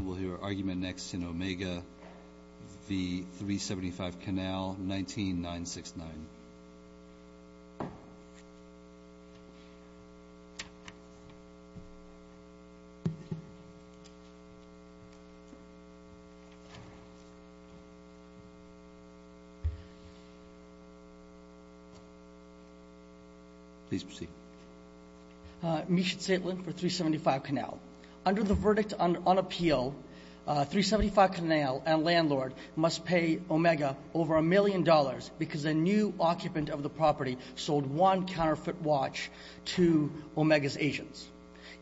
We'll hear our argument next in Omega v. 375 Canal, 19969. Please proceed. Misha Zaitlin for 375 Canal. Under the verdict on appeal, 375 Canal and landlord must pay Omega over a million dollars because a new occupant of the property sold one counterfeit watch to Omega's agents,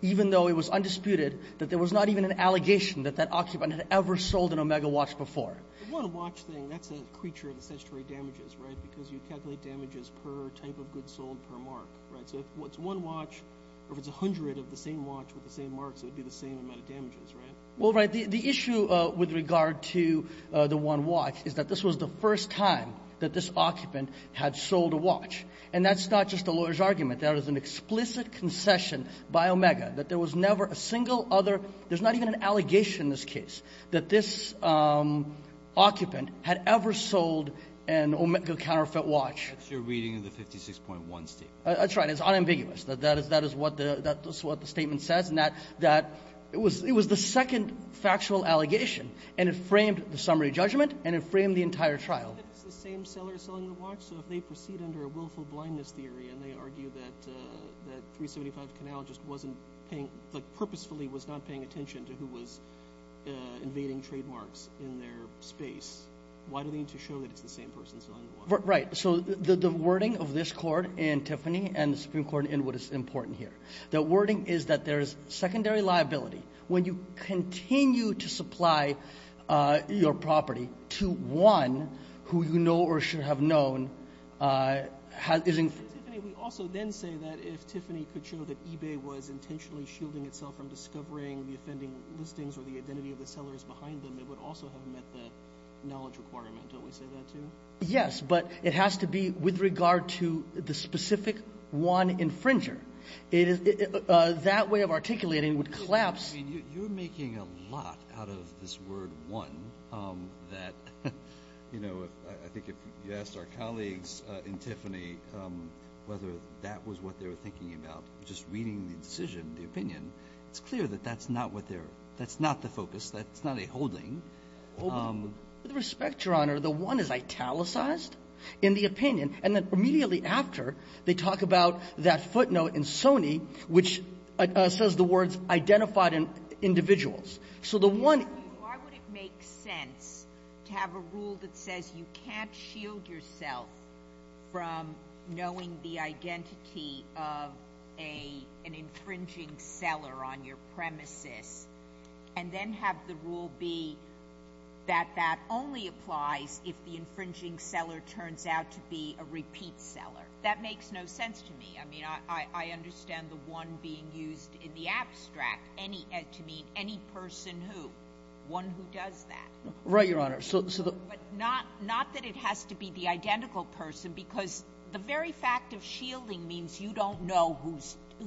even though it was undisputed that there was not even an allegation that that occupant had ever sold an Omega watch before. The one watch thing, that's a creature of the statutory damages, right, because you calculate damages per type of goods sold per mark, right? So if it's one watch or if it's 100 of the same watch with the same marks, it would be the same amount of damages, right? Well, right. The issue with regard to the one watch is that this was the first time that this occupant had sold a watch. And that's not just a lawyer's argument. That was an explicit concession by Omega that there was never a single other – there's not even an allegation in this case that this occupant had ever sold an Omega counterfeit watch. That's your reading of the 56.1 statement. That's right. It's unambiguous. That is what the statement says. And that it was the second factual allegation, and it framed the summary judgment and it framed the entire trial. If it's the same seller selling the watch, so if they proceed under a willful blindness theory and they argue that 375 Canal just wasn't paying – like purposefully was not paying attention to who was invading trademarks in their space, why do they need to show that it's the same person selling the watch? Right. So the wording of this court in Tiffany and the Supreme Court in what is important here, the wording is that there is secondary liability when you continue to supply your property to one who you know or should have known is – Tiffany, we also then say that if Tiffany could show that eBay was intentionally shielding itself from discovering the offending listings or the identity of the sellers behind them, it would also have met the knowledge requirement. Don't we say that too? Yes. But it has to be with regard to the specific one infringer. It is – that way of articulating would collapse. I mean, you're making a lot out of this word one that, you know, I think if you asked our colleagues in Tiffany whether that was what they were thinking about, just reading the decision, the opinion, it's clear that that's not what they're – that's not the focus. That's not a holding. With respect, Your Honor, the one is italicized in the opinion. And then immediately after, they talk about that footnote in Sony which says the words identified individuals. So the one – Why would it make sense to have a rule that says you can't shield yourself from knowing the identity of an infringing seller on your premises and then have the rule be that that only applies if the infringing seller turns out to be a repeat seller? That makes no sense to me. I mean, I understand the one being used in the abstract to mean any person who, one who does that. Right, Your Honor. But not that it has to be the identical person because the very fact of shielding means you don't know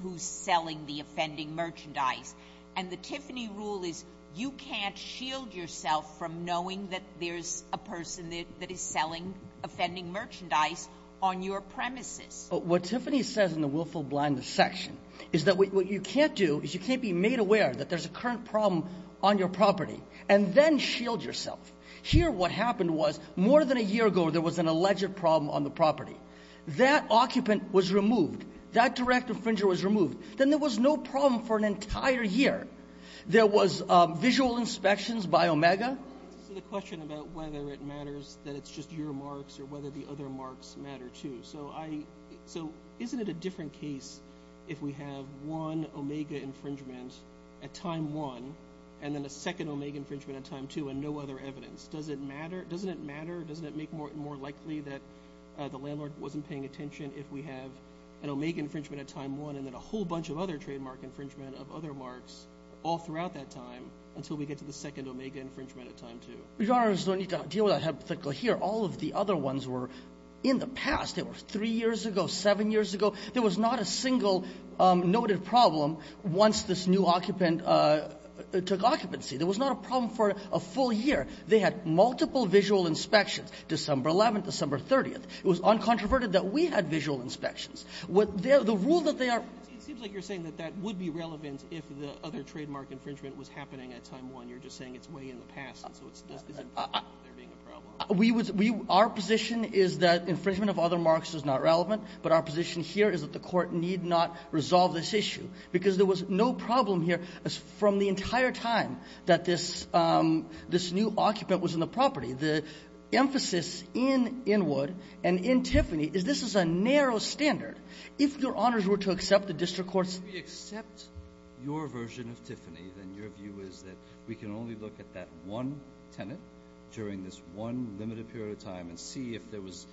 who's selling the offending merchandise. And the Tiffany rule is you can't shield yourself from knowing that there's a person that is selling offending merchandise on your premises. But what Tiffany says in the willful blindness section is that what you can't do is you can't be made aware that there's a current problem on your property and then shield yourself. Here what happened was more than a year ago there was an alleged problem on the property. That occupant was removed. That direct infringer was removed. Then there was no problem for an entire year. There was visual inspections by Omega. So the question about whether it matters that it's just your marks or whether the other marks matter too. So isn't it a different case if we have one Omega infringement at time one and then a second Omega infringement at time two and no other evidence? Doesn't it matter? Doesn't it make it more likely that the landlord wasn't paying attention if we have an Omega infringement at time one and then a whole bunch of other trademark infringement of other marks all throughout that time until we get to the second Omega infringement at time two? Your Honor, there's no need to deal with that hypothetical here. All of the other ones were in the past. They were three years ago, seven years ago. There was not a single noted problem once this new occupant took occupancy. There was not a problem for a full year. They had multiple visual inspections, December 11th, December 30th. It was uncontroverted that we had visual inspections. The rule that they are ---- It seems like you're saying that that would be relevant if the other trademark infringement was happening at time one. You're just saying it's way in the past, so it's not a problem. Our position is that infringement of other marks is not relevant, but our position here is that the Court need not resolve this issue because there was no problem here from the entire time that this new occupant was in the property. The emphasis in Inwood and in Tiffany is this is a narrow standard. If Your Honors were to accept the district court's ---- If we accept your version of Tiffany, then your view is that we can only look at that one tenant during this one limited period of time and see if there was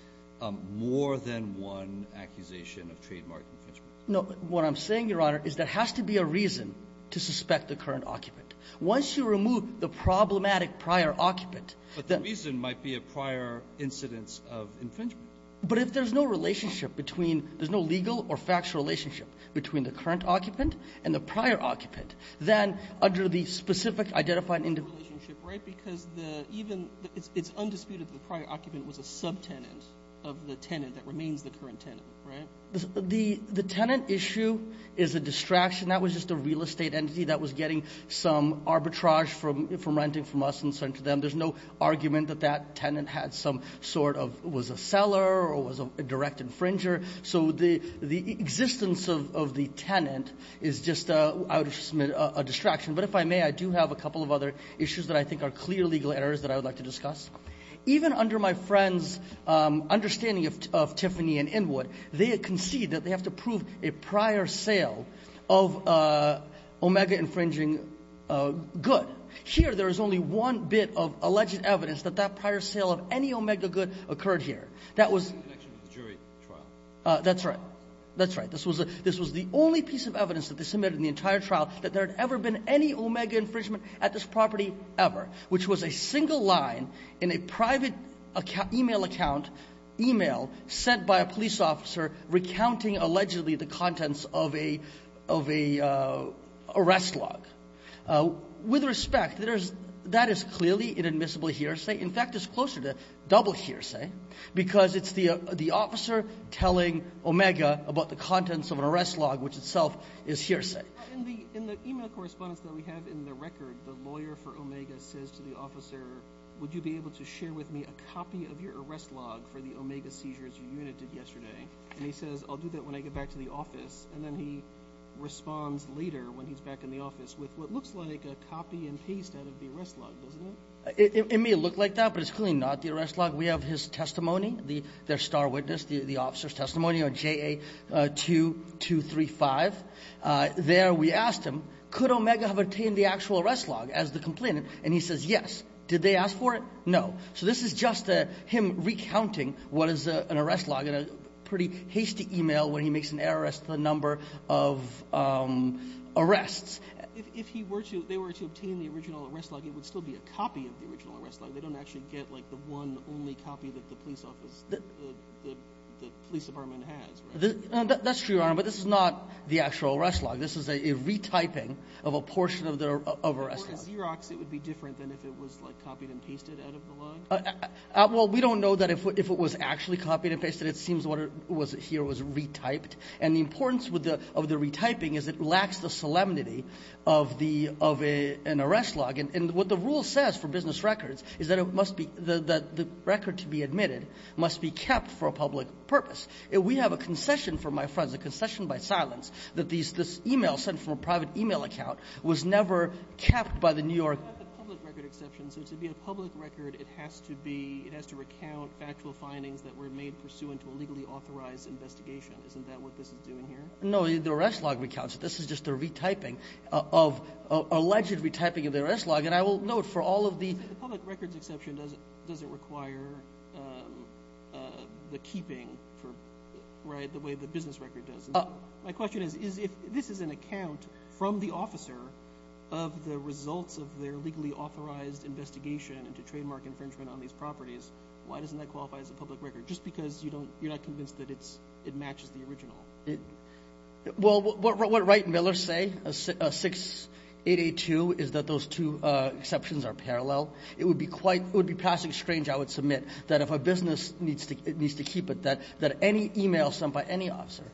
more than one accusation of trademark infringement. No. What I'm saying, Your Honor, is there has to be a reason to suspect the current occupant. Once you remove the problematic prior occupant ---- The reason might be a prior incidence of infringement. But if there's no relationship between –– there's no legal or factual relationship between the current occupant and the prior occupant, then under the specific identified individual relationship, right? Because the –– even it's undisputed that the prior occupant was a subtenant of the tenant that remains the current tenant, right? The tenant issue is a distraction. That was just a real estate entity that was getting some arbitrage from renting from us and sent to them. There's no argument that that tenant had some sort of –– was a seller or was a direct infringer. So the existence of the tenant is just a distraction. But if I may, I do have a couple of other issues that I think are clear legal errors that I would like to discuss. Even under my friend's understanding of Tiffany and Inwood, they concede that they have to prove a prior sale of omega-infringing good. But here there is only one bit of alleged evidence that that prior sale of any omega good occurred here. That was –– That's right. That's right. This was the only piece of evidence that they submitted in the entire trial that there had ever been any omega infringement at this property ever, which was a single line in a private e-mail account sent by a police officer recounting allegedly the contents of a arrest log. With respect, that is clearly inadmissible hearsay. In fact, it's closer to double hearsay because it's the officer telling omega about the contents of an arrest log, which itself is hearsay. In the e-mail correspondence that we have in the record, the lawyer for omega says to the officer, would you be able to share with me a copy of your arrest log for the omega seizures your unit did yesterday? And he says, I'll do that when I get back to the office. And then he responds later when he's back in the office with what looks like a copy and paste out of the arrest log, doesn't it? It may look like that, but it's clearly not the arrest log. We have his testimony, their star witness, the officer's testimony on JA 2235. There we asked him, could omega have obtained the actual arrest log as the complainant? And he says yes. Did they ask for it? No. So this is just him recounting what is an arrest log in a pretty hasty e-mail when he makes an error as to the number of arrests. If they were to obtain the original arrest log, it would still be a copy of the original arrest log. They don't actually get the one only copy that the police department has, right? That's true, Your Honor, but this is not the actual arrest log. This is a retyping of a portion of the arrest log. For a Xerox, it would be different than if it was copied and pasted out of the log? Well, we don't know that if it was actually copied and pasted. It seems what was here was retyped. And the importance of the retyping is it lacks the solemnity of an arrest log. And what the rule says for business records is that the record to be admitted must be kept for a public purpose. We have a concession from my friends, a concession by silence, that this e-mail sent from a private e-mail account was never kept by the New York What about the public record exception? So to be a public record, it has to recount factual findings that were made pursuant to a legally authorized investigation. Isn't that what this is doing here? No, the arrest log recounts it. This is just a retyping of alleged retyping of the arrest log. And I will note for all of the The public records exception doesn't require the keeping the way the business record does. My question is, if this is an account from the officer of the results of their legally authorized investigation into trademark infringement on these properties, why doesn't that qualify as a public record? Just because you're not convinced that it matches the original. Well, what Wright and Miller say, 6882, is that those two exceptions are parallel. It would be passing strange, I would submit, that if a business needs to keep it, that any e-mail sent by any officer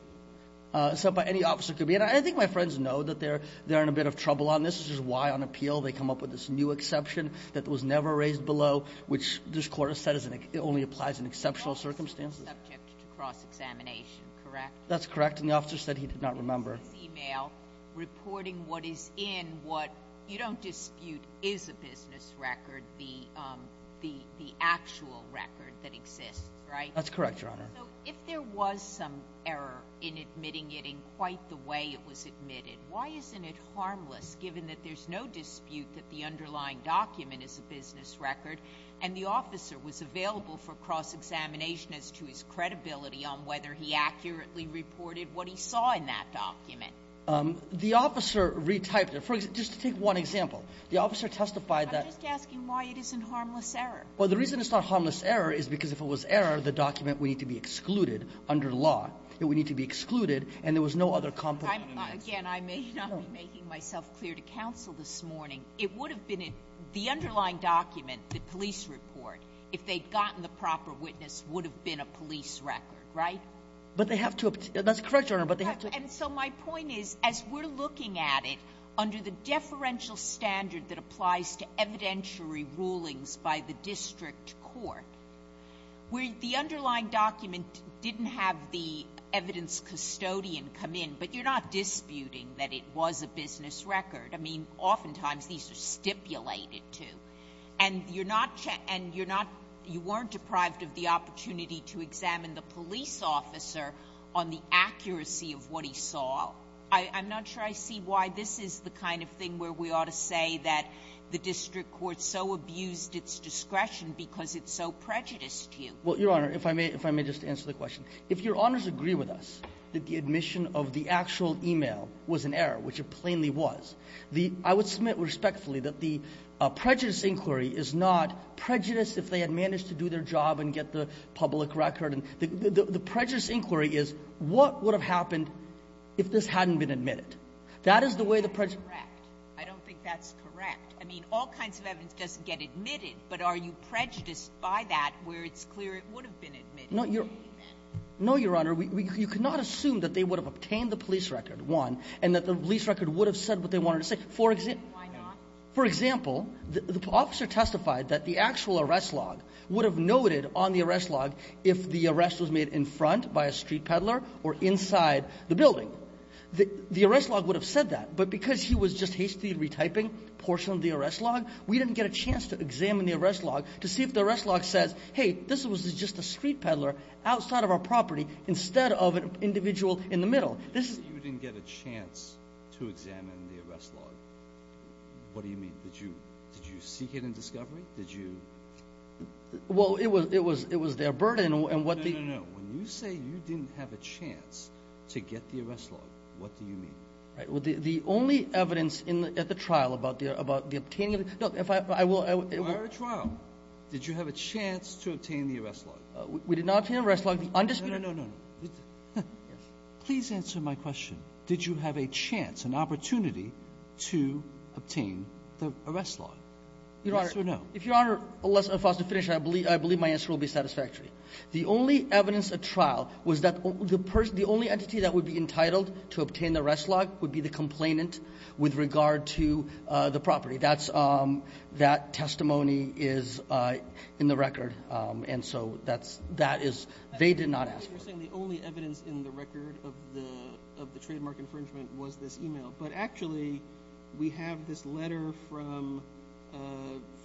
could be. And I think my friends know that they're in a bit of trouble on this, which is why on appeal they come up with this new exception that was never raised below, which this Court has said only applies in exceptional circumstances. The officer was subject to cross-examination, correct? That's correct, and the officer said he did not remember. This is an e-mail reporting what is in what you don't dispute is a business record, the actual record that exists, right? That's correct, Your Honor. So if there was some error in admitting it in quite the way it was admitted, why isn't it harmless given that there's no dispute that the underlying document is a business record and the officer was available for cross-examination as to his credibility on whether he accurately reported what he saw in that document? The officer re-typed it. Just to take one example, the officer testified that— I'm just asking why it isn't harmless error. Well, the reason it's not harmless error is because if it was error, the document would need to be excluded under law. It would need to be excluded, and there was no other complement to this. Again, I may not be making myself clear to counsel this morning. It would have been in the underlying document, the police report, if they'd gotten the proper witness would have been a police record, right? But they have to have to—that's correct, Your Honor, but they have to— And so my point is, as we're looking at it, under the deferential standard that applies to evidentiary rulings by the district court, where the underlying document didn't have the evidence custodian come in, but you're not disputing that it was a business record. I mean, oftentimes these are stipulated to. And you're not—you weren't deprived of the opportunity to examine the police officer on the accuracy of what he saw. I'm not sure I see why this is the kind of thing where we ought to say that the district court so abused its discretion because it's so prejudiced to you. Well, Your Honor, if I may just answer the question. If Your Honors agree with us that the admission of the actual email was an error, which it plainly was, I would submit respectfully that the prejudice inquiry is not prejudice if they had managed to do their job and get the public record. And the prejudice inquiry is what would have happened if this hadn't been admitted. That is the way the prejudice— That's correct. I don't think that's correct. I mean, all kinds of evidence doesn't get admitted, but are you prejudiced by that where it's clear it would have been admitted? No, Your Honor. You cannot assume that they would have obtained the police record, one, and that the police record would have said what they wanted to say. Why not? For example, the officer testified that the actual arrest log would have noted on the arrest was made in front by a street peddler or inside the building. The arrest log would have said that, but because he was just hastily retyping a portion of the arrest log, we didn't get a chance to examine the arrest log to see if the arrest log says, hey, this was just a street peddler outside of our property instead of an individual in the middle. You didn't get a chance to examine the arrest log. What do you mean? Did you seek it in discovery? Did you— Well, it was their burden, and what the— No, no, no. When you say you didn't have a chance to get the arrest log, what do you mean? Right. Well, the only evidence at the trial about the obtaining of the – no, if I will – Prior to trial, did you have a chance to obtain the arrest log? We did not obtain the arrest log. The undisputed— No, no, no, no, no. Please answer my question. Did you have a chance, an opportunity to obtain the arrest log? Yes or no? If Your Honor, if I was to finish, I believe my answer will be satisfactory. The only evidence at trial was that the only entity that would be entitled to obtain the arrest log would be the complainant with regard to the property. That testimony is in the record, and so that is – they did not ask for it. You're saying the only evidence in the record of the trademark infringement was this email. But actually, we have this letter from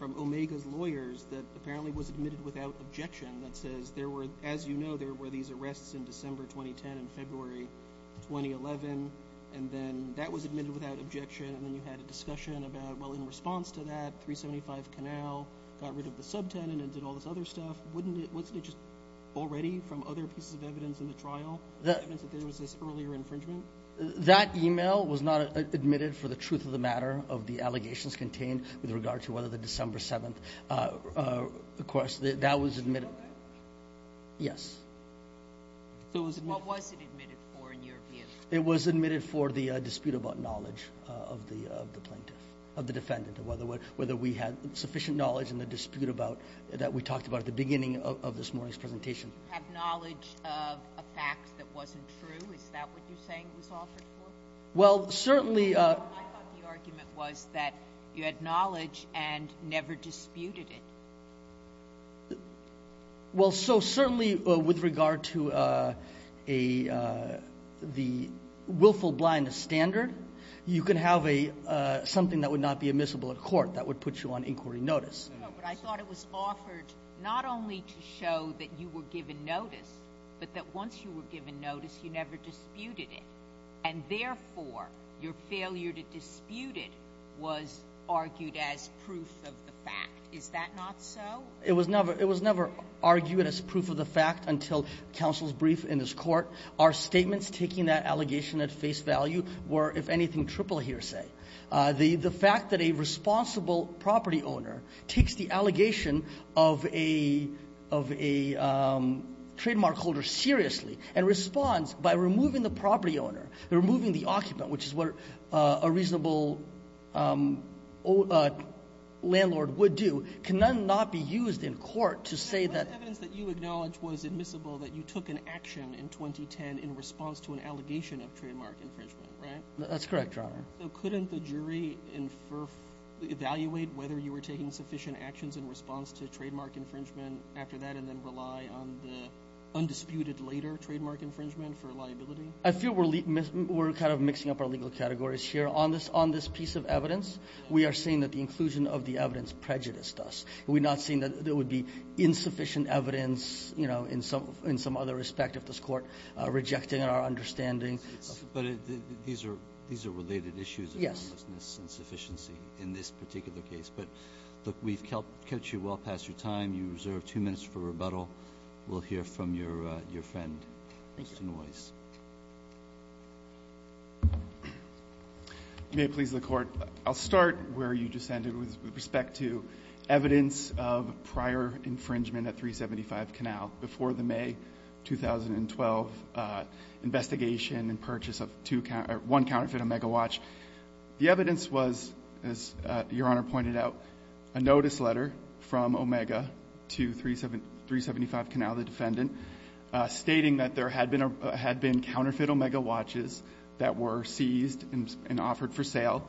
Omega's lawyers that apparently was admitted without objection that says there were – as you know, there were these arrests in December 2010 and February 2011, and then that was admitted without objection, and then you had a discussion about, well, in response to that, 375 Canal got rid of the subtenant and did all this other stuff. Wouldn't it – wasn't it just already from other pieces of evidence in the trial that there was this earlier infringement? That email was not admitted for the truth of the matter of the allegations contained with regard to whether the December 7th – of course, that was admitted. Did you know that? Yes. What was it admitted for in your view? It was admitted for the dispute about knowledge of the plaintiff – of the defendant, whether we had sufficient knowledge in the dispute about – that we talked about at the beginning of this morning's presentation. Did you have knowledge of a fact that wasn't true? Is that what you're saying it was offered for? Well, certainly – I thought the argument was that you had knowledge and never disputed it. Well, so certainly with regard to a – the willful blindness standard, you can have a – something that would not be admissible at court that would put you on inquiry notice. No, but I thought it was offered not only to show that you were given notice, but that once you were given notice, you never disputed it, and therefore your failure to dispute it was argued as proof of the fact. Is that not so? It was never argued as proof of the fact until counsel's brief in this court. Our statements taking that allegation at face value were, if anything, triple hearsay. The fact that a responsible property owner takes the allegation of a – of a trademark holder seriously and responds by removing the property owner, removing the occupant, which is what a reasonable landlord would do, can then not be used in court to say that – The evidence that you acknowledge was admissible that you took an action in 2010 in response to an allegation of trademark infringement, right? That's correct, Your Honor. So couldn't the jury evaluate whether you were taking sufficient actions in response to trademark infringement after that and then rely on the undisputed later trademark infringement for liability? I feel we're kind of mixing up our legal categories here. On this piece of evidence, we are saying that the inclusion of the evidence prejudiced us. We're not saying that there would be insufficient evidence, you know, in some other respect of this court rejecting our understanding. But these are – these are related issues. Yes. In this particular case. But, look, we've kept you well past your time. You reserve two minutes for rebuttal. We'll hear from your friend, Mr. Noyes. Thank you. May it please the Court, I'll start where you descended with respect to evidence of prior infringement at 375 Canal before the May 2012 investigation and purchase of one counterfeit Omega watch. The evidence was, as Your Honor pointed out, a notice letter from Omega to 375 Canal, the defendant, stating that there had been counterfeit Omega watches that were seized and offered for sale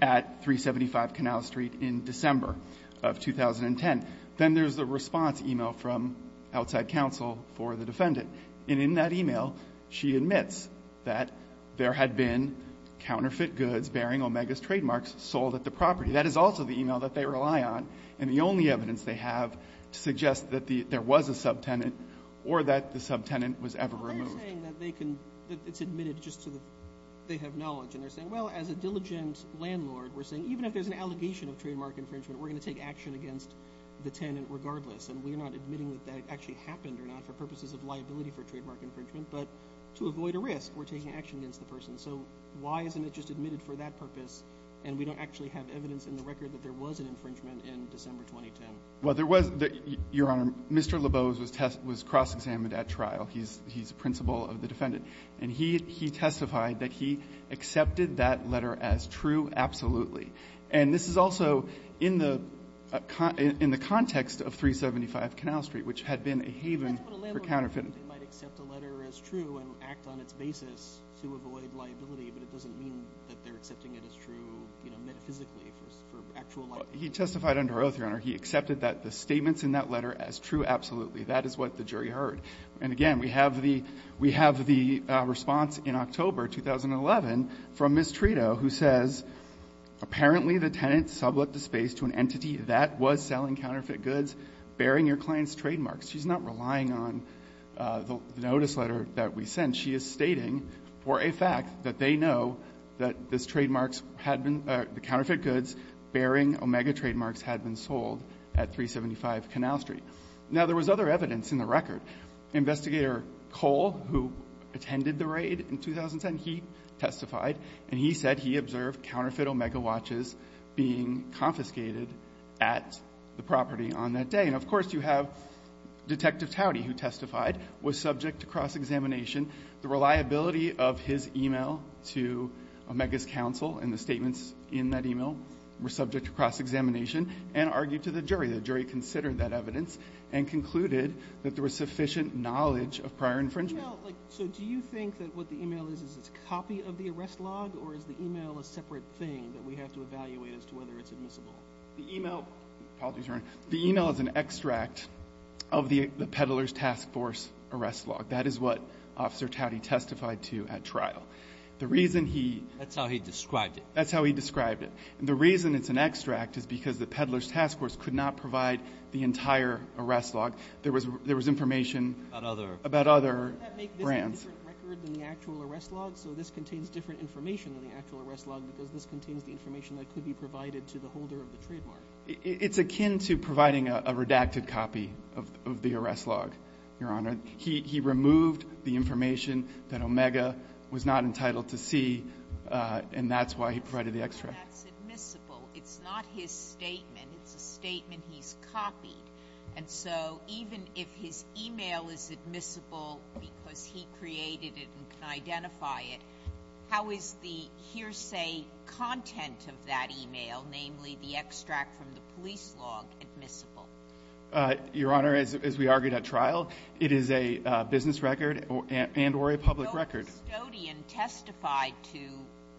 at 375 Canal Street in December of 2010. Then there's the response email from outside counsel for the defendant. And in that email, she admits that there had been counterfeit goods bearing Omega's trademarks sold at the property. That is also the email that they rely on. And the only evidence they have to suggest that there was a subtenant or that the subtenant was ever removed. They're saying that it's admitted just so they have knowledge. And they're saying, well, as a diligent landlord, we're saying even if there's an allegation of trademark infringement, we're going to take action against the tenant regardless. And we're not admitting that that actually happened or not for purposes of liability for trademark infringement. But to avoid a risk, we're taking action against the person. So why isn't it just admitted for that purpose, and we don't actually have evidence in the record that there was an infringement in December 2010? Well, there was. Your Honor, Mr. Labose was cross-examined at trial. He's the principal of the defendant. And he testified that he accepted that letter as true absolutely. And this is also in the context of 375 Canal Street, which had been a haven for counterfeit. But that's what a landlord might do. They might accept a letter as true and act on its basis to avoid liability, but it doesn't mean that they're accepting it as true metaphysically for actual liability. He testified under oath, Your Honor. He accepted that the statements in that letter as true absolutely. That is what the jury heard. And, again, we have the response in October 2011 from Ms. Trito, who says, apparently the tenant sublet the space to an entity that was selling counterfeit goods bearing your client's trademarks. She's not relying on the notice letter that we sent. She is stating for a fact that they know that this trademark had been the counterfeit goods bearing Omega trademarks had been sold at 375 Canal Street. Now, there was other evidence in the record. Investigator Cole, who attended the raid in 2010, he testified, and he said he observed counterfeit Omega watches being confiscated at the property on that day. And, of course, you have Detective Tauti, who testified, was subject to cross-examination. The reliability of his e-mail to Omega's counsel and the statements in that e-mail were subject to cross-examination and argued to the jury. The jury considered that evidence and concluded that there was sufficient knowledge of prior infringement. So do you think that what the e-mail is is a copy of the arrest log, or is the e-mail a separate thing that we have to evaluate as to whether it's admissible? The e-mail is an extract of the Peddler's Task Force arrest log. That is what Officer Tauti testified to at trial. That's how he described it. That's how he described it. The reason it's an extract is because the Peddler's Task Force could not provide the entire arrest log. There was information about other brands. Doesn't that make this a different record than the actual arrest log? So this contains different information than the actual arrest log because this contains the information that could be provided to the holder of the trademark. It's akin to providing a redacted copy of the arrest log, Your Honor. He removed the information that Omega was not entitled to see, and that's why he provided the extract. That's admissible. It's not his statement. It's a statement he's copied. And so even if his e-mail is admissible because he created it and can identify it, how is the hearsay content of that e-mail, namely the extract from the police log, admissible? Your Honor, as we argued at trial, it is a business record and or a public record. The custodian testified to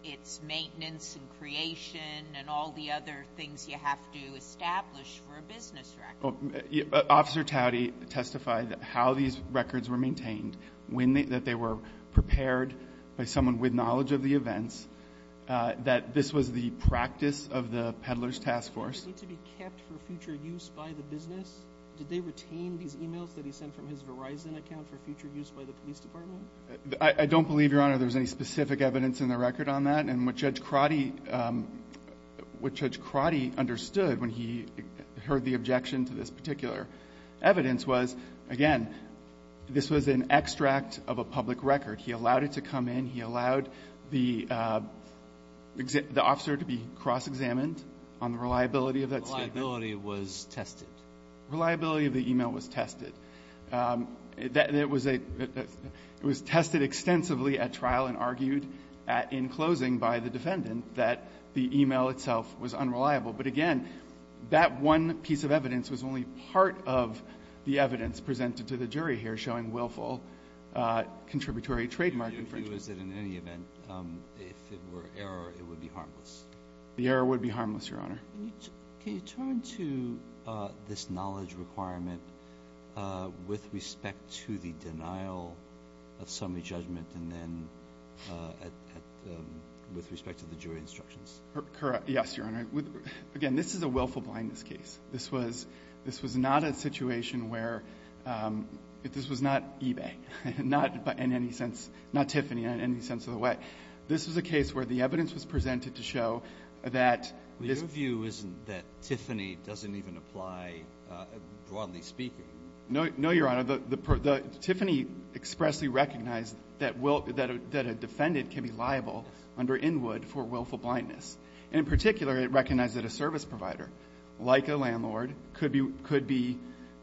its maintenance and creation and all the other things you have to establish for a business record. Officer Tauti testified how these records were maintained, that they were prepared by someone with knowledge of the events, that this was the practice of the Peddler's Task Force. Did they need to be kept for future use by the business? Did they retain these e-mails that he sent from his Verizon account for future use by the police department? I don't believe, Your Honor, there's any specific evidence in the record on that. And what Judge Crotty understood when he heard the objection to this particular evidence was, again, this was an extract of a public record. He allowed it to come in. He allowed the officer to be cross-examined on the reliability of that statement. Reliability was tested. Reliability of the e-mail was tested. It was tested extensively at trial and argued at in closing by the defendant that the e-mail itself was unreliable. But, again, that one piece of evidence was only part of the evidence presented to the jury here showing willful contributory trademark infringement. If it was in any event, if it were error, it would be harmless? The error would be harmless, Your Honor. Can you turn to this knowledge requirement with respect to the denial of summary judgment and then with respect to the jury instructions? Yes, Your Honor. Again, this is a willful blindness case. This was not a situation where this was not eBay, not Tiffany in any sense of the way. This was a case where the evidence was presented to show that this ---- Your view isn't that Tiffany doesn't even apply, broadly speaking? No, Your Honor. Tiffany expressly recognized that a defendant can be liable under Inwood for willful blindness. And, in particular, it recognized that a service provider, like a landlord, could be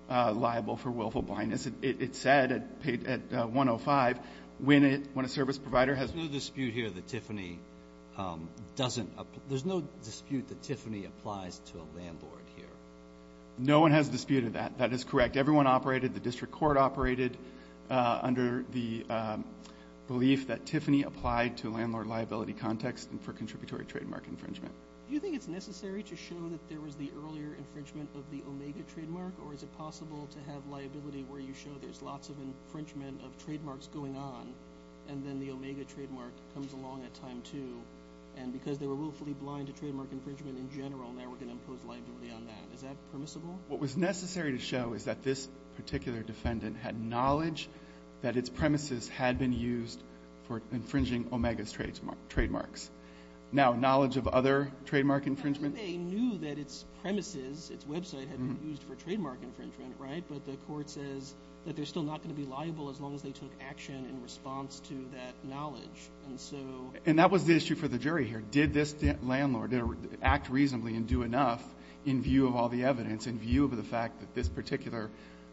liable for willful blindness. It said at 105, when a service provider has ---- There's no dispute here that Tiffany doesn't ---- There's no dispute that Tiffany applies to a landlord here. No one has disputed that. That is correct. Everyone operated, the district court operated, under the belief that Tiffany applied to a landlord liability context for contributory trademark infringement. Do you think it's necessary to show that there was the earlier infringement of the Omega trademark? Or is it possible to have liability where you show there's lots of infringement of trademarks going on, and then the Omega trademark comes along at time, too? And because they were willfully blind to trademark infringement in general, now we're going to impose liability on that. Is that permissible? What was necessary to show is that this particular defendant had knowledge that its premises had been used for infringing Omega's trademarks. Now, knowledge of other trademark infringement? They knew that its premises, its website, had been used for trademark infringement, but the court says that they're still not going to be liable as long as they took action in response to that knowledge. And so ---- And that was the issue for the jury here. Did this landlord act reasonably and do enough in view of all the evidence, in view of the fact that this particular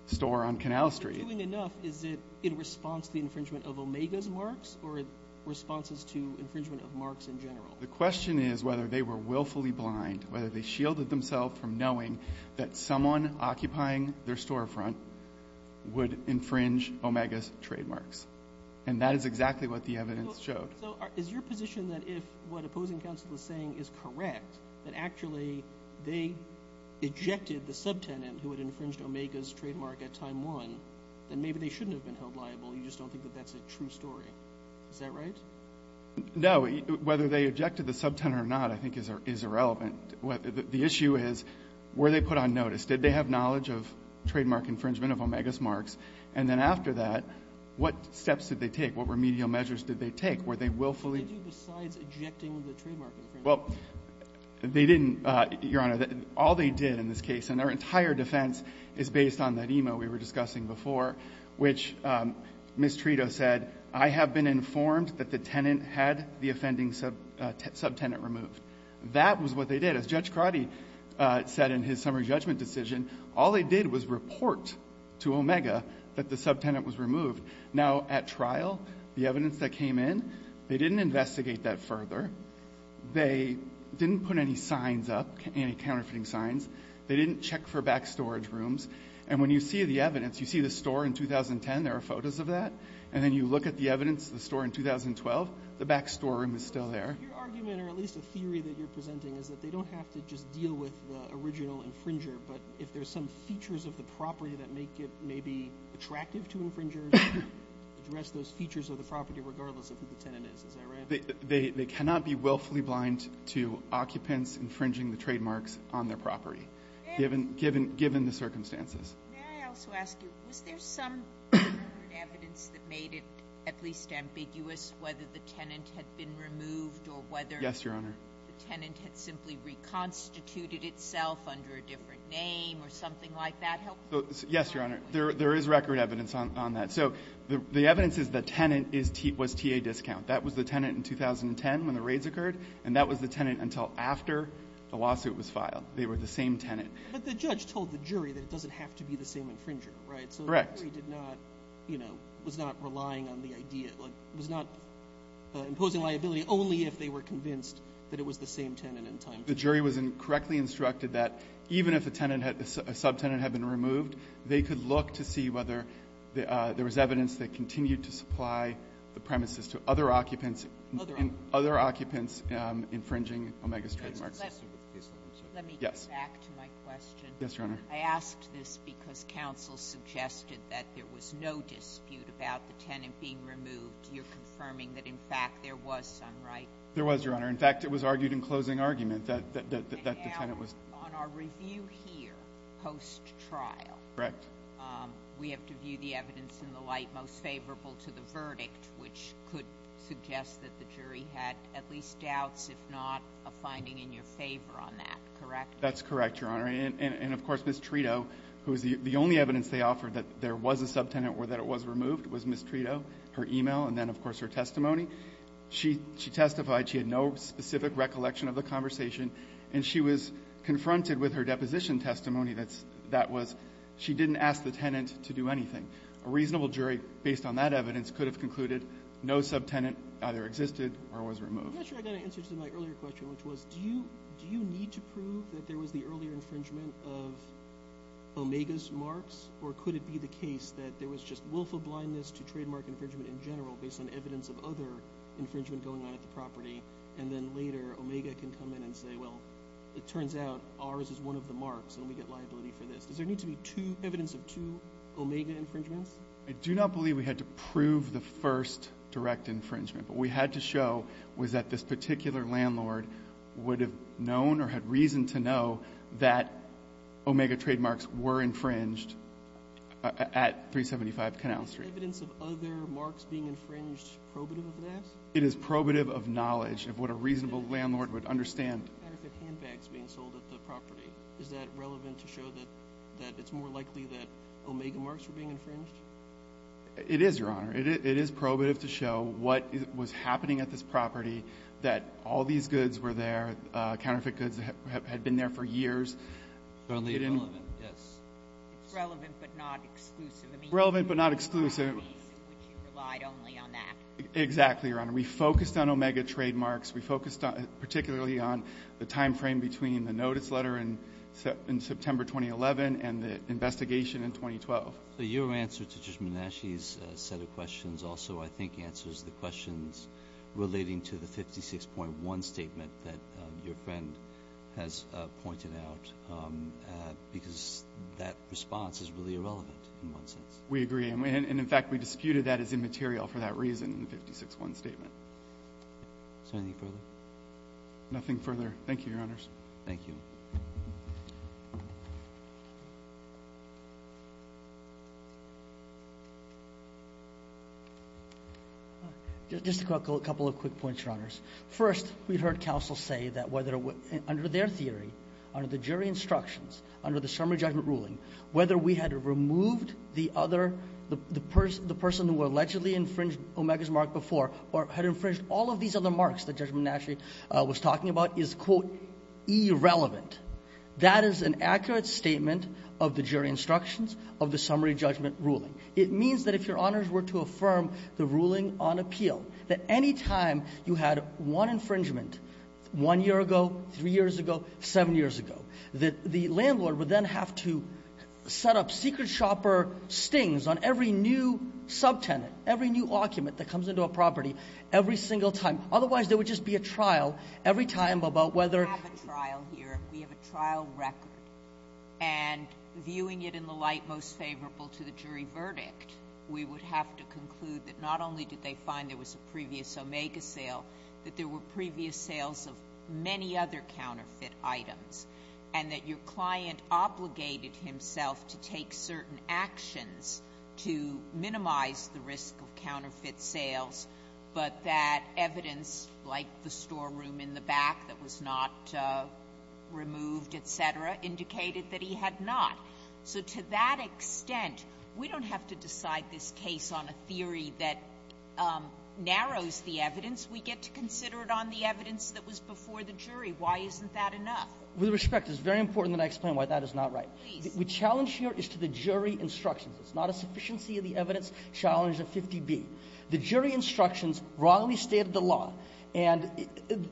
store on Canal Street ---- In doing enough, is it in response to the infringement of Omega's marks or responses to infringement of marks in general? The question is whether they were willfully blind, whether they shielded themselves from knowing that someone occupying their storefront would infringe Omega's trademarks. And that is exactly what the evidence showed. So is your position that if what opposing counsel is saying is correct, that actually they ejected the subtenant who had infringed Omega's trademark at time one, then maybe they shouldn't have been held liable? You just don't think that that's a true story. Is that right? No. Whether they ejected the subtenant or not, I think, is irrelevant. The issue is, were they put on notice? Did they have knowledge of trademark infringement of Omega's marks? And then after that, what steps did they take? What remedial measures did they take? Were they willfully ---- What did you do besides ejecting the trademark infringement? Well, they didn't, Your Honor. All they did in this case, and their entire defense is based on that email we were the tenant had the offending subtenant removed. That was what they did. As Judge Crotty said in his summary judgment decision, all they did was report to Omega that the subtenant was removed. Now, at trial, the evidence that came in, they didn't investigate that further. They didn't put any signs up, any counterfeiting signs. They didn't check for back storage rooms. And when you see the evidence, you see the store in 2010, there are photos of that. And then you look at the evidence, the store in 2012, the back storeroom is still there. Your argument, or at least a theory that you're presenting, is that they don't have to just deal with the original infringer, but if there's some features of the property that make it maybe attractive to infringers, address those features of the property regardless of who the tenant is. Is that right? They cannot be willfully blind to occupants infringing the trademarks on their property, given the circumstances. May I also ask you, was there some evidence that made it at least ambiguous whether the tenant had been removed or whether the tenant had simply reconstituted itself under a different name or something like that? Yes, Your Honor. There is record evidence on that. So the evidence is the tenant was T.A. Discount. That was the tenant in 2010 when the raids occurred, and that was the tenant until after the lawsuit was filed. They were the same tenant. But the judge told the jury that it doesn't have to be the same infringer, right? Correct. So the jury did not, you know, was not relying on the idea. It was not imposing liability only if they were convinced that it was the same tenant in time. The jury was correctly instructed that even if a tenant had, a subtenant had been removed, they could look to see whether there was evidence that continued to supply the premises to other occupants and other occupants infringing Omega's trademarks. Let me get back to my question. Yes, Your Honor. I asked this because counsel suggested that there was no dispute about the tenant being removed. You're confirming that, in fact, there was some right? There was, Your Honor. In fact, it was argued in closing argument that the tenant was. On our review here, post-trial. Correct. We have to view the evidence in the light most favorable to the verdict, which could suggest that the jury had at least doubts, if not a finding in your favor on that. Correct? That's correct, Your Honor. And of course, Ms. Trito, who is the only evidence they offered that there was a subtenant or that it was removed, was Ms. Trito. Her email and then, of course, her testimony. She testified she had no specific recollection of the conversation, and she was confronted with her deposition testimony that that was she didn't ask the tenant to do anything. A reasonable jury, based on that evidence, could have concluded no subtenant either existed or was removed. I'm not sure I got an answer to my earlier question, which was, do you need to prove that there was the earlier infringement of Omega's marks, or could it be the case that there was just willful blindness to trademark infringement in general based on evidence of other infringement going on at the property, and then later Omega can come in and say, well, it turns out ours is one of the marks and we get liability for this. Does there need to be evidence of two Omega infringements? I do not believe we had to prove the first direct infringement. What we had to show was that this particular landlord would have known or had reason to know that Omega trademarks were infringed at 375 Canal Street. Is evidence of other marks being infringed probative of that? It is probative of knowledge of what a reasonable landlord would understand. What about handbags being sold at the property? Is that relevant to show that it's more likely that Omega marks were being infringed? It is, Your Honor. It is probative to show what was happening at this property, that all these goods were there, counterfeit goods that had been there for years. It's relevant but not exclusive. Relevant but not exclusive. Which you relied only on that. Exactly, Your Honor. We focused on Omega trademarks. We focused particularly on the timeframe between the notice letter in September 2011 and the investigation in 2012. Your answer to Judge Menasche's set of questions also I think answers the questions relating to the 56.1 statement that your friend has pointed out because that response is really irrelevant in one sense. We agree. And, in fact, we disputed that as immaterial for that reason in the 56.1 statement. Is there anything further? Nothing further. Thank you, Your Honors. Thank you. Just a couple of quick points, Your Honors. First, we heard counsel say that under their theory, under the jury instructions, under the summary judgment ruling, whether we had removed the person who allegedly infringed Omega's mark before or had infringed all of these other marks that Judge That is an accurate statement of the jury instructions of the summary judgment ruling. It means that if Your Honors were to affirm the ruling on appeal, that any time you had one infringement one year ago, three years ago, seven years ago, that the landlord would then have to set up secret shopper stings on every new subtenant, every new occupant that comes into a property every single time. Otherwise, there would just be a trial every time about whether We have a trial here. We have a trial record. And viewing it in the light most favorable to the jury verdict, we would have to conclude that not only did they find there was a previous Omega sale, that there were previous sales of many other counterfeit items, and that your client obligated himself to take certain actions to minimize the risk of counterfeit sales, but that evidence like the storeroom in the back that was not removed, et cetera, indicated that he had not. So to that extent, we don't have to decide this case on a theory that narrows the evidence. We get to consider it on the evidence that was before the jury. Why isn't that enough? With respect, it's very important that I explain why that is not right. Please. The challenge here is to the jury instructions. It's not a sufficiency of the evidence challenge of 50B. The jury instructions wrongly stated the law, and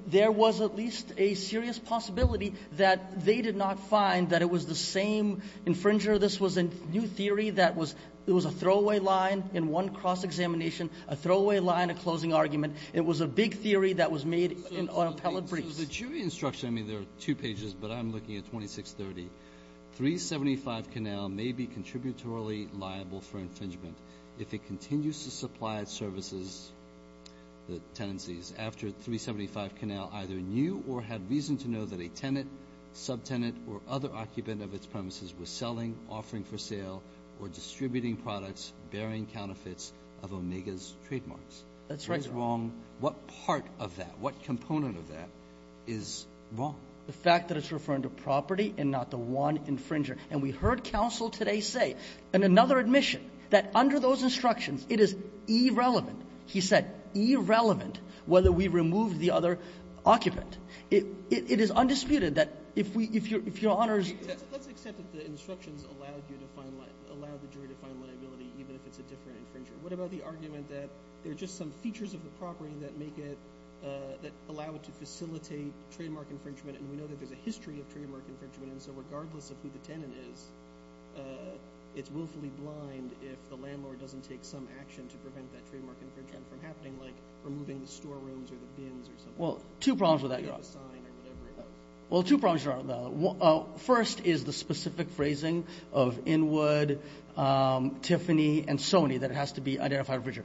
there was at least a serious possibility that they did not find that it was the same infringer. This was a new theory that was – it was a throwaway line in one cross-examination, a throwaway line, a closing argument. It was a big theory that was made on appellate briefs. So the jury instruction – I mean, there are two pages, but I'm looking at 2630. 375 Canal may be contributorily liable for infringement if it continues to supply its services, the tenancies, after 375 Canal either knew or had reason to know that a tenant, subtenant, or other occupant of its premises were selling, offering for sale, or distributing products bearing counterfeits of Omega's trademarks. That's right, Your Honor. What is wrong? What part of that, what component of that is wrong? The fact that it's referring to property and not the one infringer. And we heard counsel today say, and another admission, that under those instructions, it is irrelevant. He said irrelevant whether we removed the other occupant. It is undisputed that if we – if Your Honor's – Let's accept that the instructions allowed you to find – allowed the jury to find liability even if it's a different infringer. What about the argument that there are just some features of the property that make it – that allow it to facilitate trademark infringement? And we know that there's a history of trademark infringement, and so regardless of who the tenant is, it's willfully blind if the landlord doesn't take some action to prevent that trademark infringement from happening, like removing the storerooms or the bins or something. Well, two problems with that, Your Honor. Well, two problems with that, Your Honor. First is the specific phrasing of Inwood, Tiffany, and Sony that it has to be identified infringer.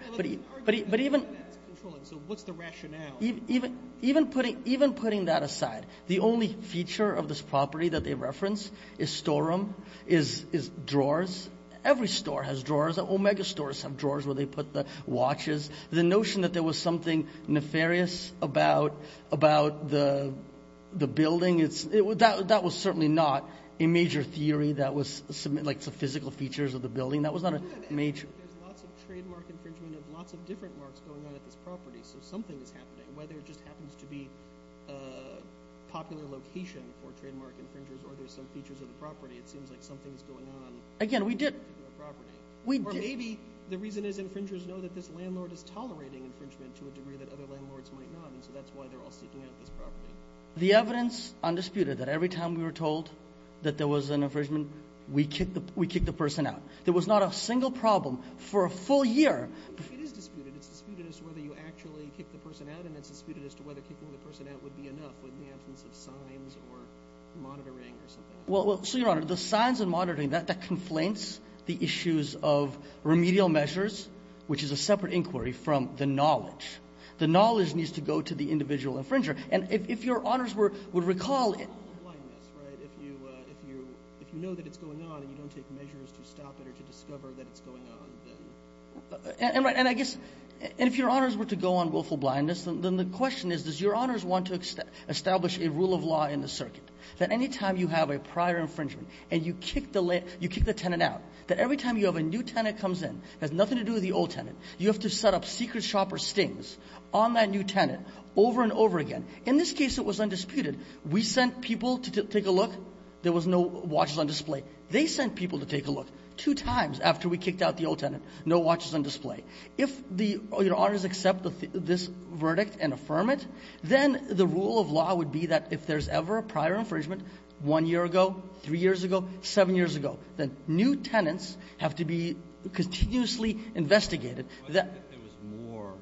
But even – So what's the rationale? Even putting that aside, the only feature of this property that they reference is storeroom, is drawers. Every store has drawers. Omega stores have drawers where they put the watches. The notion that there was something nefarious about the building, that was certainly not a major theory that was – like the physical features of the building. That was not a major – But there's lots of trademark infringement of lots of different marks going on at this property, so something is happening. Whether it just happens to be a popular location for trademark infringers or there's some features of the property, it seems like something is going on. Again, we didn't – Or maybe the reason is infringers know that this landlord is tolerating infringement to a degree that other landlords might not, and so that's why they're all seeking out this property. The evidence undisputed that every time we were told that there was an infringement, we kicked the person out. There was not a single problem for a full year. It is disputed. It's disputed as to whether you actually kicked the person out, and it's disputed as to whether kicking the person out would be enough in the absence of signs or monitoring or something else. Well, so, Your Honor, the signs and monitoring, that conflates the issues of remedial measures, which is a separate inquiry from the knowledge. The knowledge needs to go to the individual infringer. And if Your Honors would recall – Willful blindness, right? If you know that it's going on and you don't take measures to stop it or to discover that it's going on, then – And I guess – and if Your Honors were to go on willful blindness, then the question is, does Your Honors want to establish a rule of law in the circuit that any time you have a prior infringement and you kick the tenant out, that every time you have a new tenant comes in, it has nothing to do with the old tenant, you have to set up secret shopper stings on that new tenant over and over again. In this case, it was undisputed. We sent people to take a look. There was no watches on display. They sent people to take a look two times after we kicked out the old tenant. No watches on display. If the – Your Honors accept this verdict and affirm it, then the rule of law would be that if there's ever a prior infringement one year ago, three years ago, seven years ago, then new tenants have to be continuously investigated. But if there was more,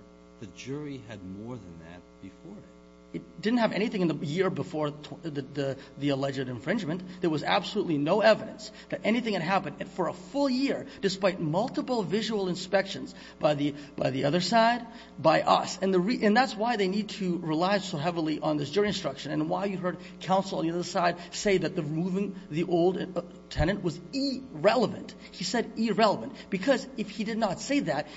the jury had more than that before that. It didn't have anything in the year before the alleged infringement. There was absolutely no evidence that anything had happened for a full year despite multiple visual inspections by the other side, by us. And that's why they need to rely so heavily on this jury instruction and why you heard counsel on the other side say that removing the old tenant was irrelevant. He said irrelevant because if he did not say that,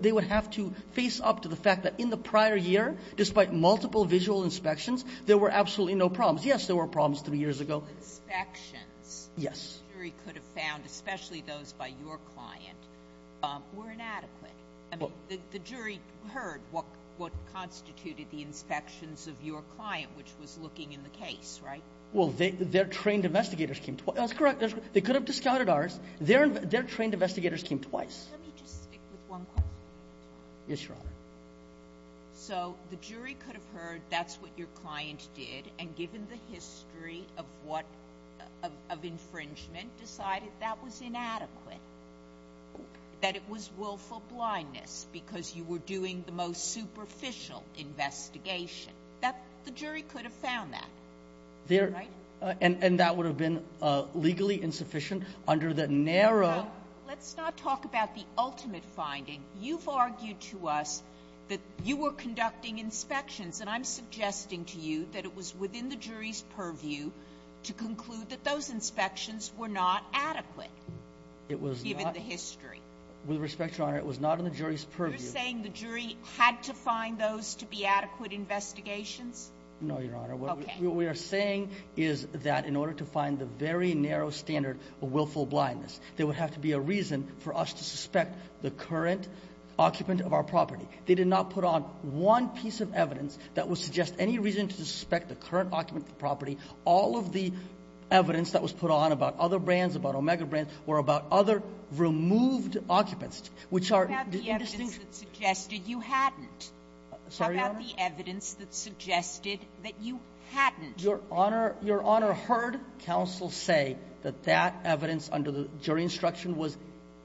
they would have to face up to the fact that in the prior year, despite multiple visual inspections, there were absolutely no problems. Yes, there were problems three years ago. The inspections. Yes. The jury could have found, especially those by your client, were inadequate. I mean, the jury heard what constituted the inspections of your client, which was looking in the case, right? Well, their trained investigators came twice. That's correct. They could have discounted ours. Their trained investigators came twice. Let me just stick with one question. Yes, Your Honor. So the jury could have heard that's what your client did, and given the history of what of infringement, decided that was inadequate, that it was willful blindness because you were doing the most superficial investigation. The jury could have found that, right? And that would have been legally insufficient under the narrow. Let's not talk about the ultimate finding. You've argued to us that you were conducting inspections, and I'm suggesting to you that it was within the jury's purview to conclude that those inspections were not adequate given the history. With respect, Your Honor, it was not in the jury's purview. You're saying the jury had to find those to be adequate investigations? No, Your Honor. Okay. What we are saying is that in order to find the very narrow standard of willful blindness, there would have to be a reason for us to suspect the current occupant of our property. They did not put on one piece of evidence that would suggest any reason to suspect the current occupant of the property. All of the evidence that was put on about other brands, about Omega brands, were about other removed occupants, which are indistinguishable. How about the evidence that suggested you hadn't? Sorry, Your Honor? How about the evidence that suggested that you hadn't? Your Honor, Your Honor heard counsel say that that evidence under the jury instruction was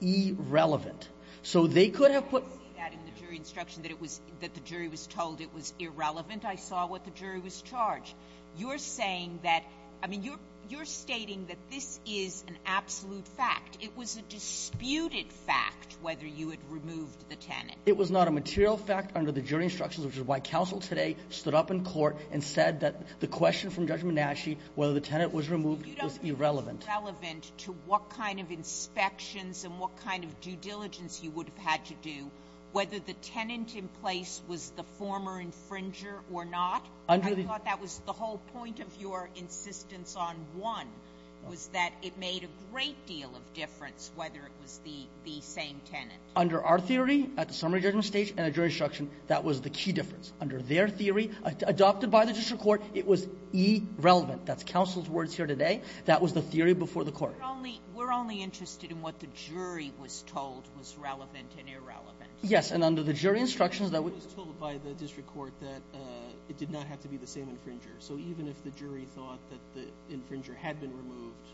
irrelevant. So they could have put that in the jury instruction that it was – that the jury was told it was irrelevant. I saw what the jury was charged. You're saying that – I mean, you're stating that this is an absolute fact. It was a disputed fact whether you had removed the tenant. It was not a material fact under the jury instructions, which is why counsel today stood up in court and said that the question from Judge Menasche whether the tenant was removed was irrelevant. You don't think it was irrelevant to what kind of inspections and what kind of due diligence you would have had to do whether the tenant in place was the former infringer or not? Under the – I thought that was the whole point of your insistence on one, was that it made a great deal of difference whether it was the same tenant. Under our theory, at the summary judgment stage and at jury instruction, that was the key difference. Under their theory, adopted by the district court, it was irrelevant. That's counsel's words here today. That was the theory before the court. We're only interested in what the jury was told was relevant and irrelevant. Yes. And under the jury instructions, that would – It was told by the district court that it did not have to be the same infringer. So even if the jury thought that the infringer had been removed,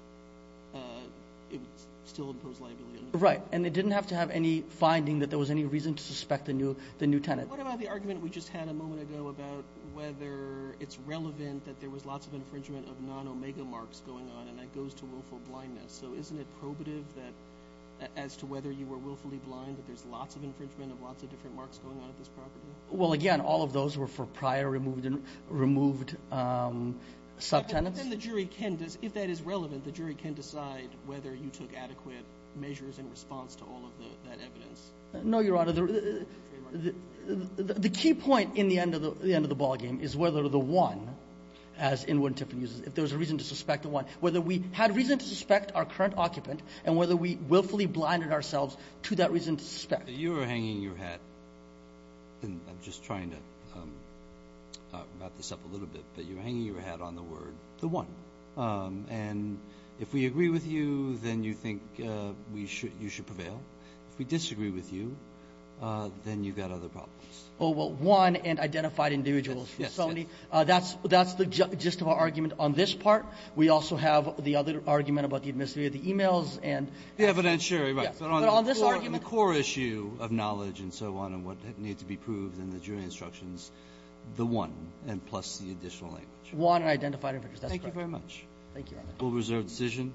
it would still impose liability on the tenant. Right. And it didn't have to have any finding that there was any reason to suspect the new tenant. Right. And what about the argument we just had a moment ago about whether it's relevant that there was lots of infringement of non-Omega marks going on, and that goes to willful blindness. So isn't it probative that – as to whether you were willfully blind, that there's lots of infringement of lots of different marks going on at this property? Well, again, all of those were for prior removed subtenants. But then the jury can – if that is relevant, the jury can decide whether you took adequate measures in response to all of that evidence. No, Your Honor. The key point in the end of the ballgame is whether the one, as Inwood and Tiffin use it, if there was a reason to suspect the one, whether we had reason to suspect our current occupant and whether we willfully blinded ourselves to that reason to suspect. You were hanging your hat – and I'm just trying to wrap this up a little bit – but you were hanging your hat on the word the one. And if we agree with you, then you think you should prevail. If we disagree with you, then you've got other problems. Oh, well, one and identified individuals. Yes, yes. That's the gist of our argument on this part. We also have the other argument about the admissibility of the e-mails and – The evidentiary, right. Yes. But on this argument – But on the core issue of knowledge and so on and what needs to be proved in the jury instructions, the one and plus the additional language. One and identified individuals. That's correct. Thank you very much. Thank you, Your Honor. We'll reserve decision.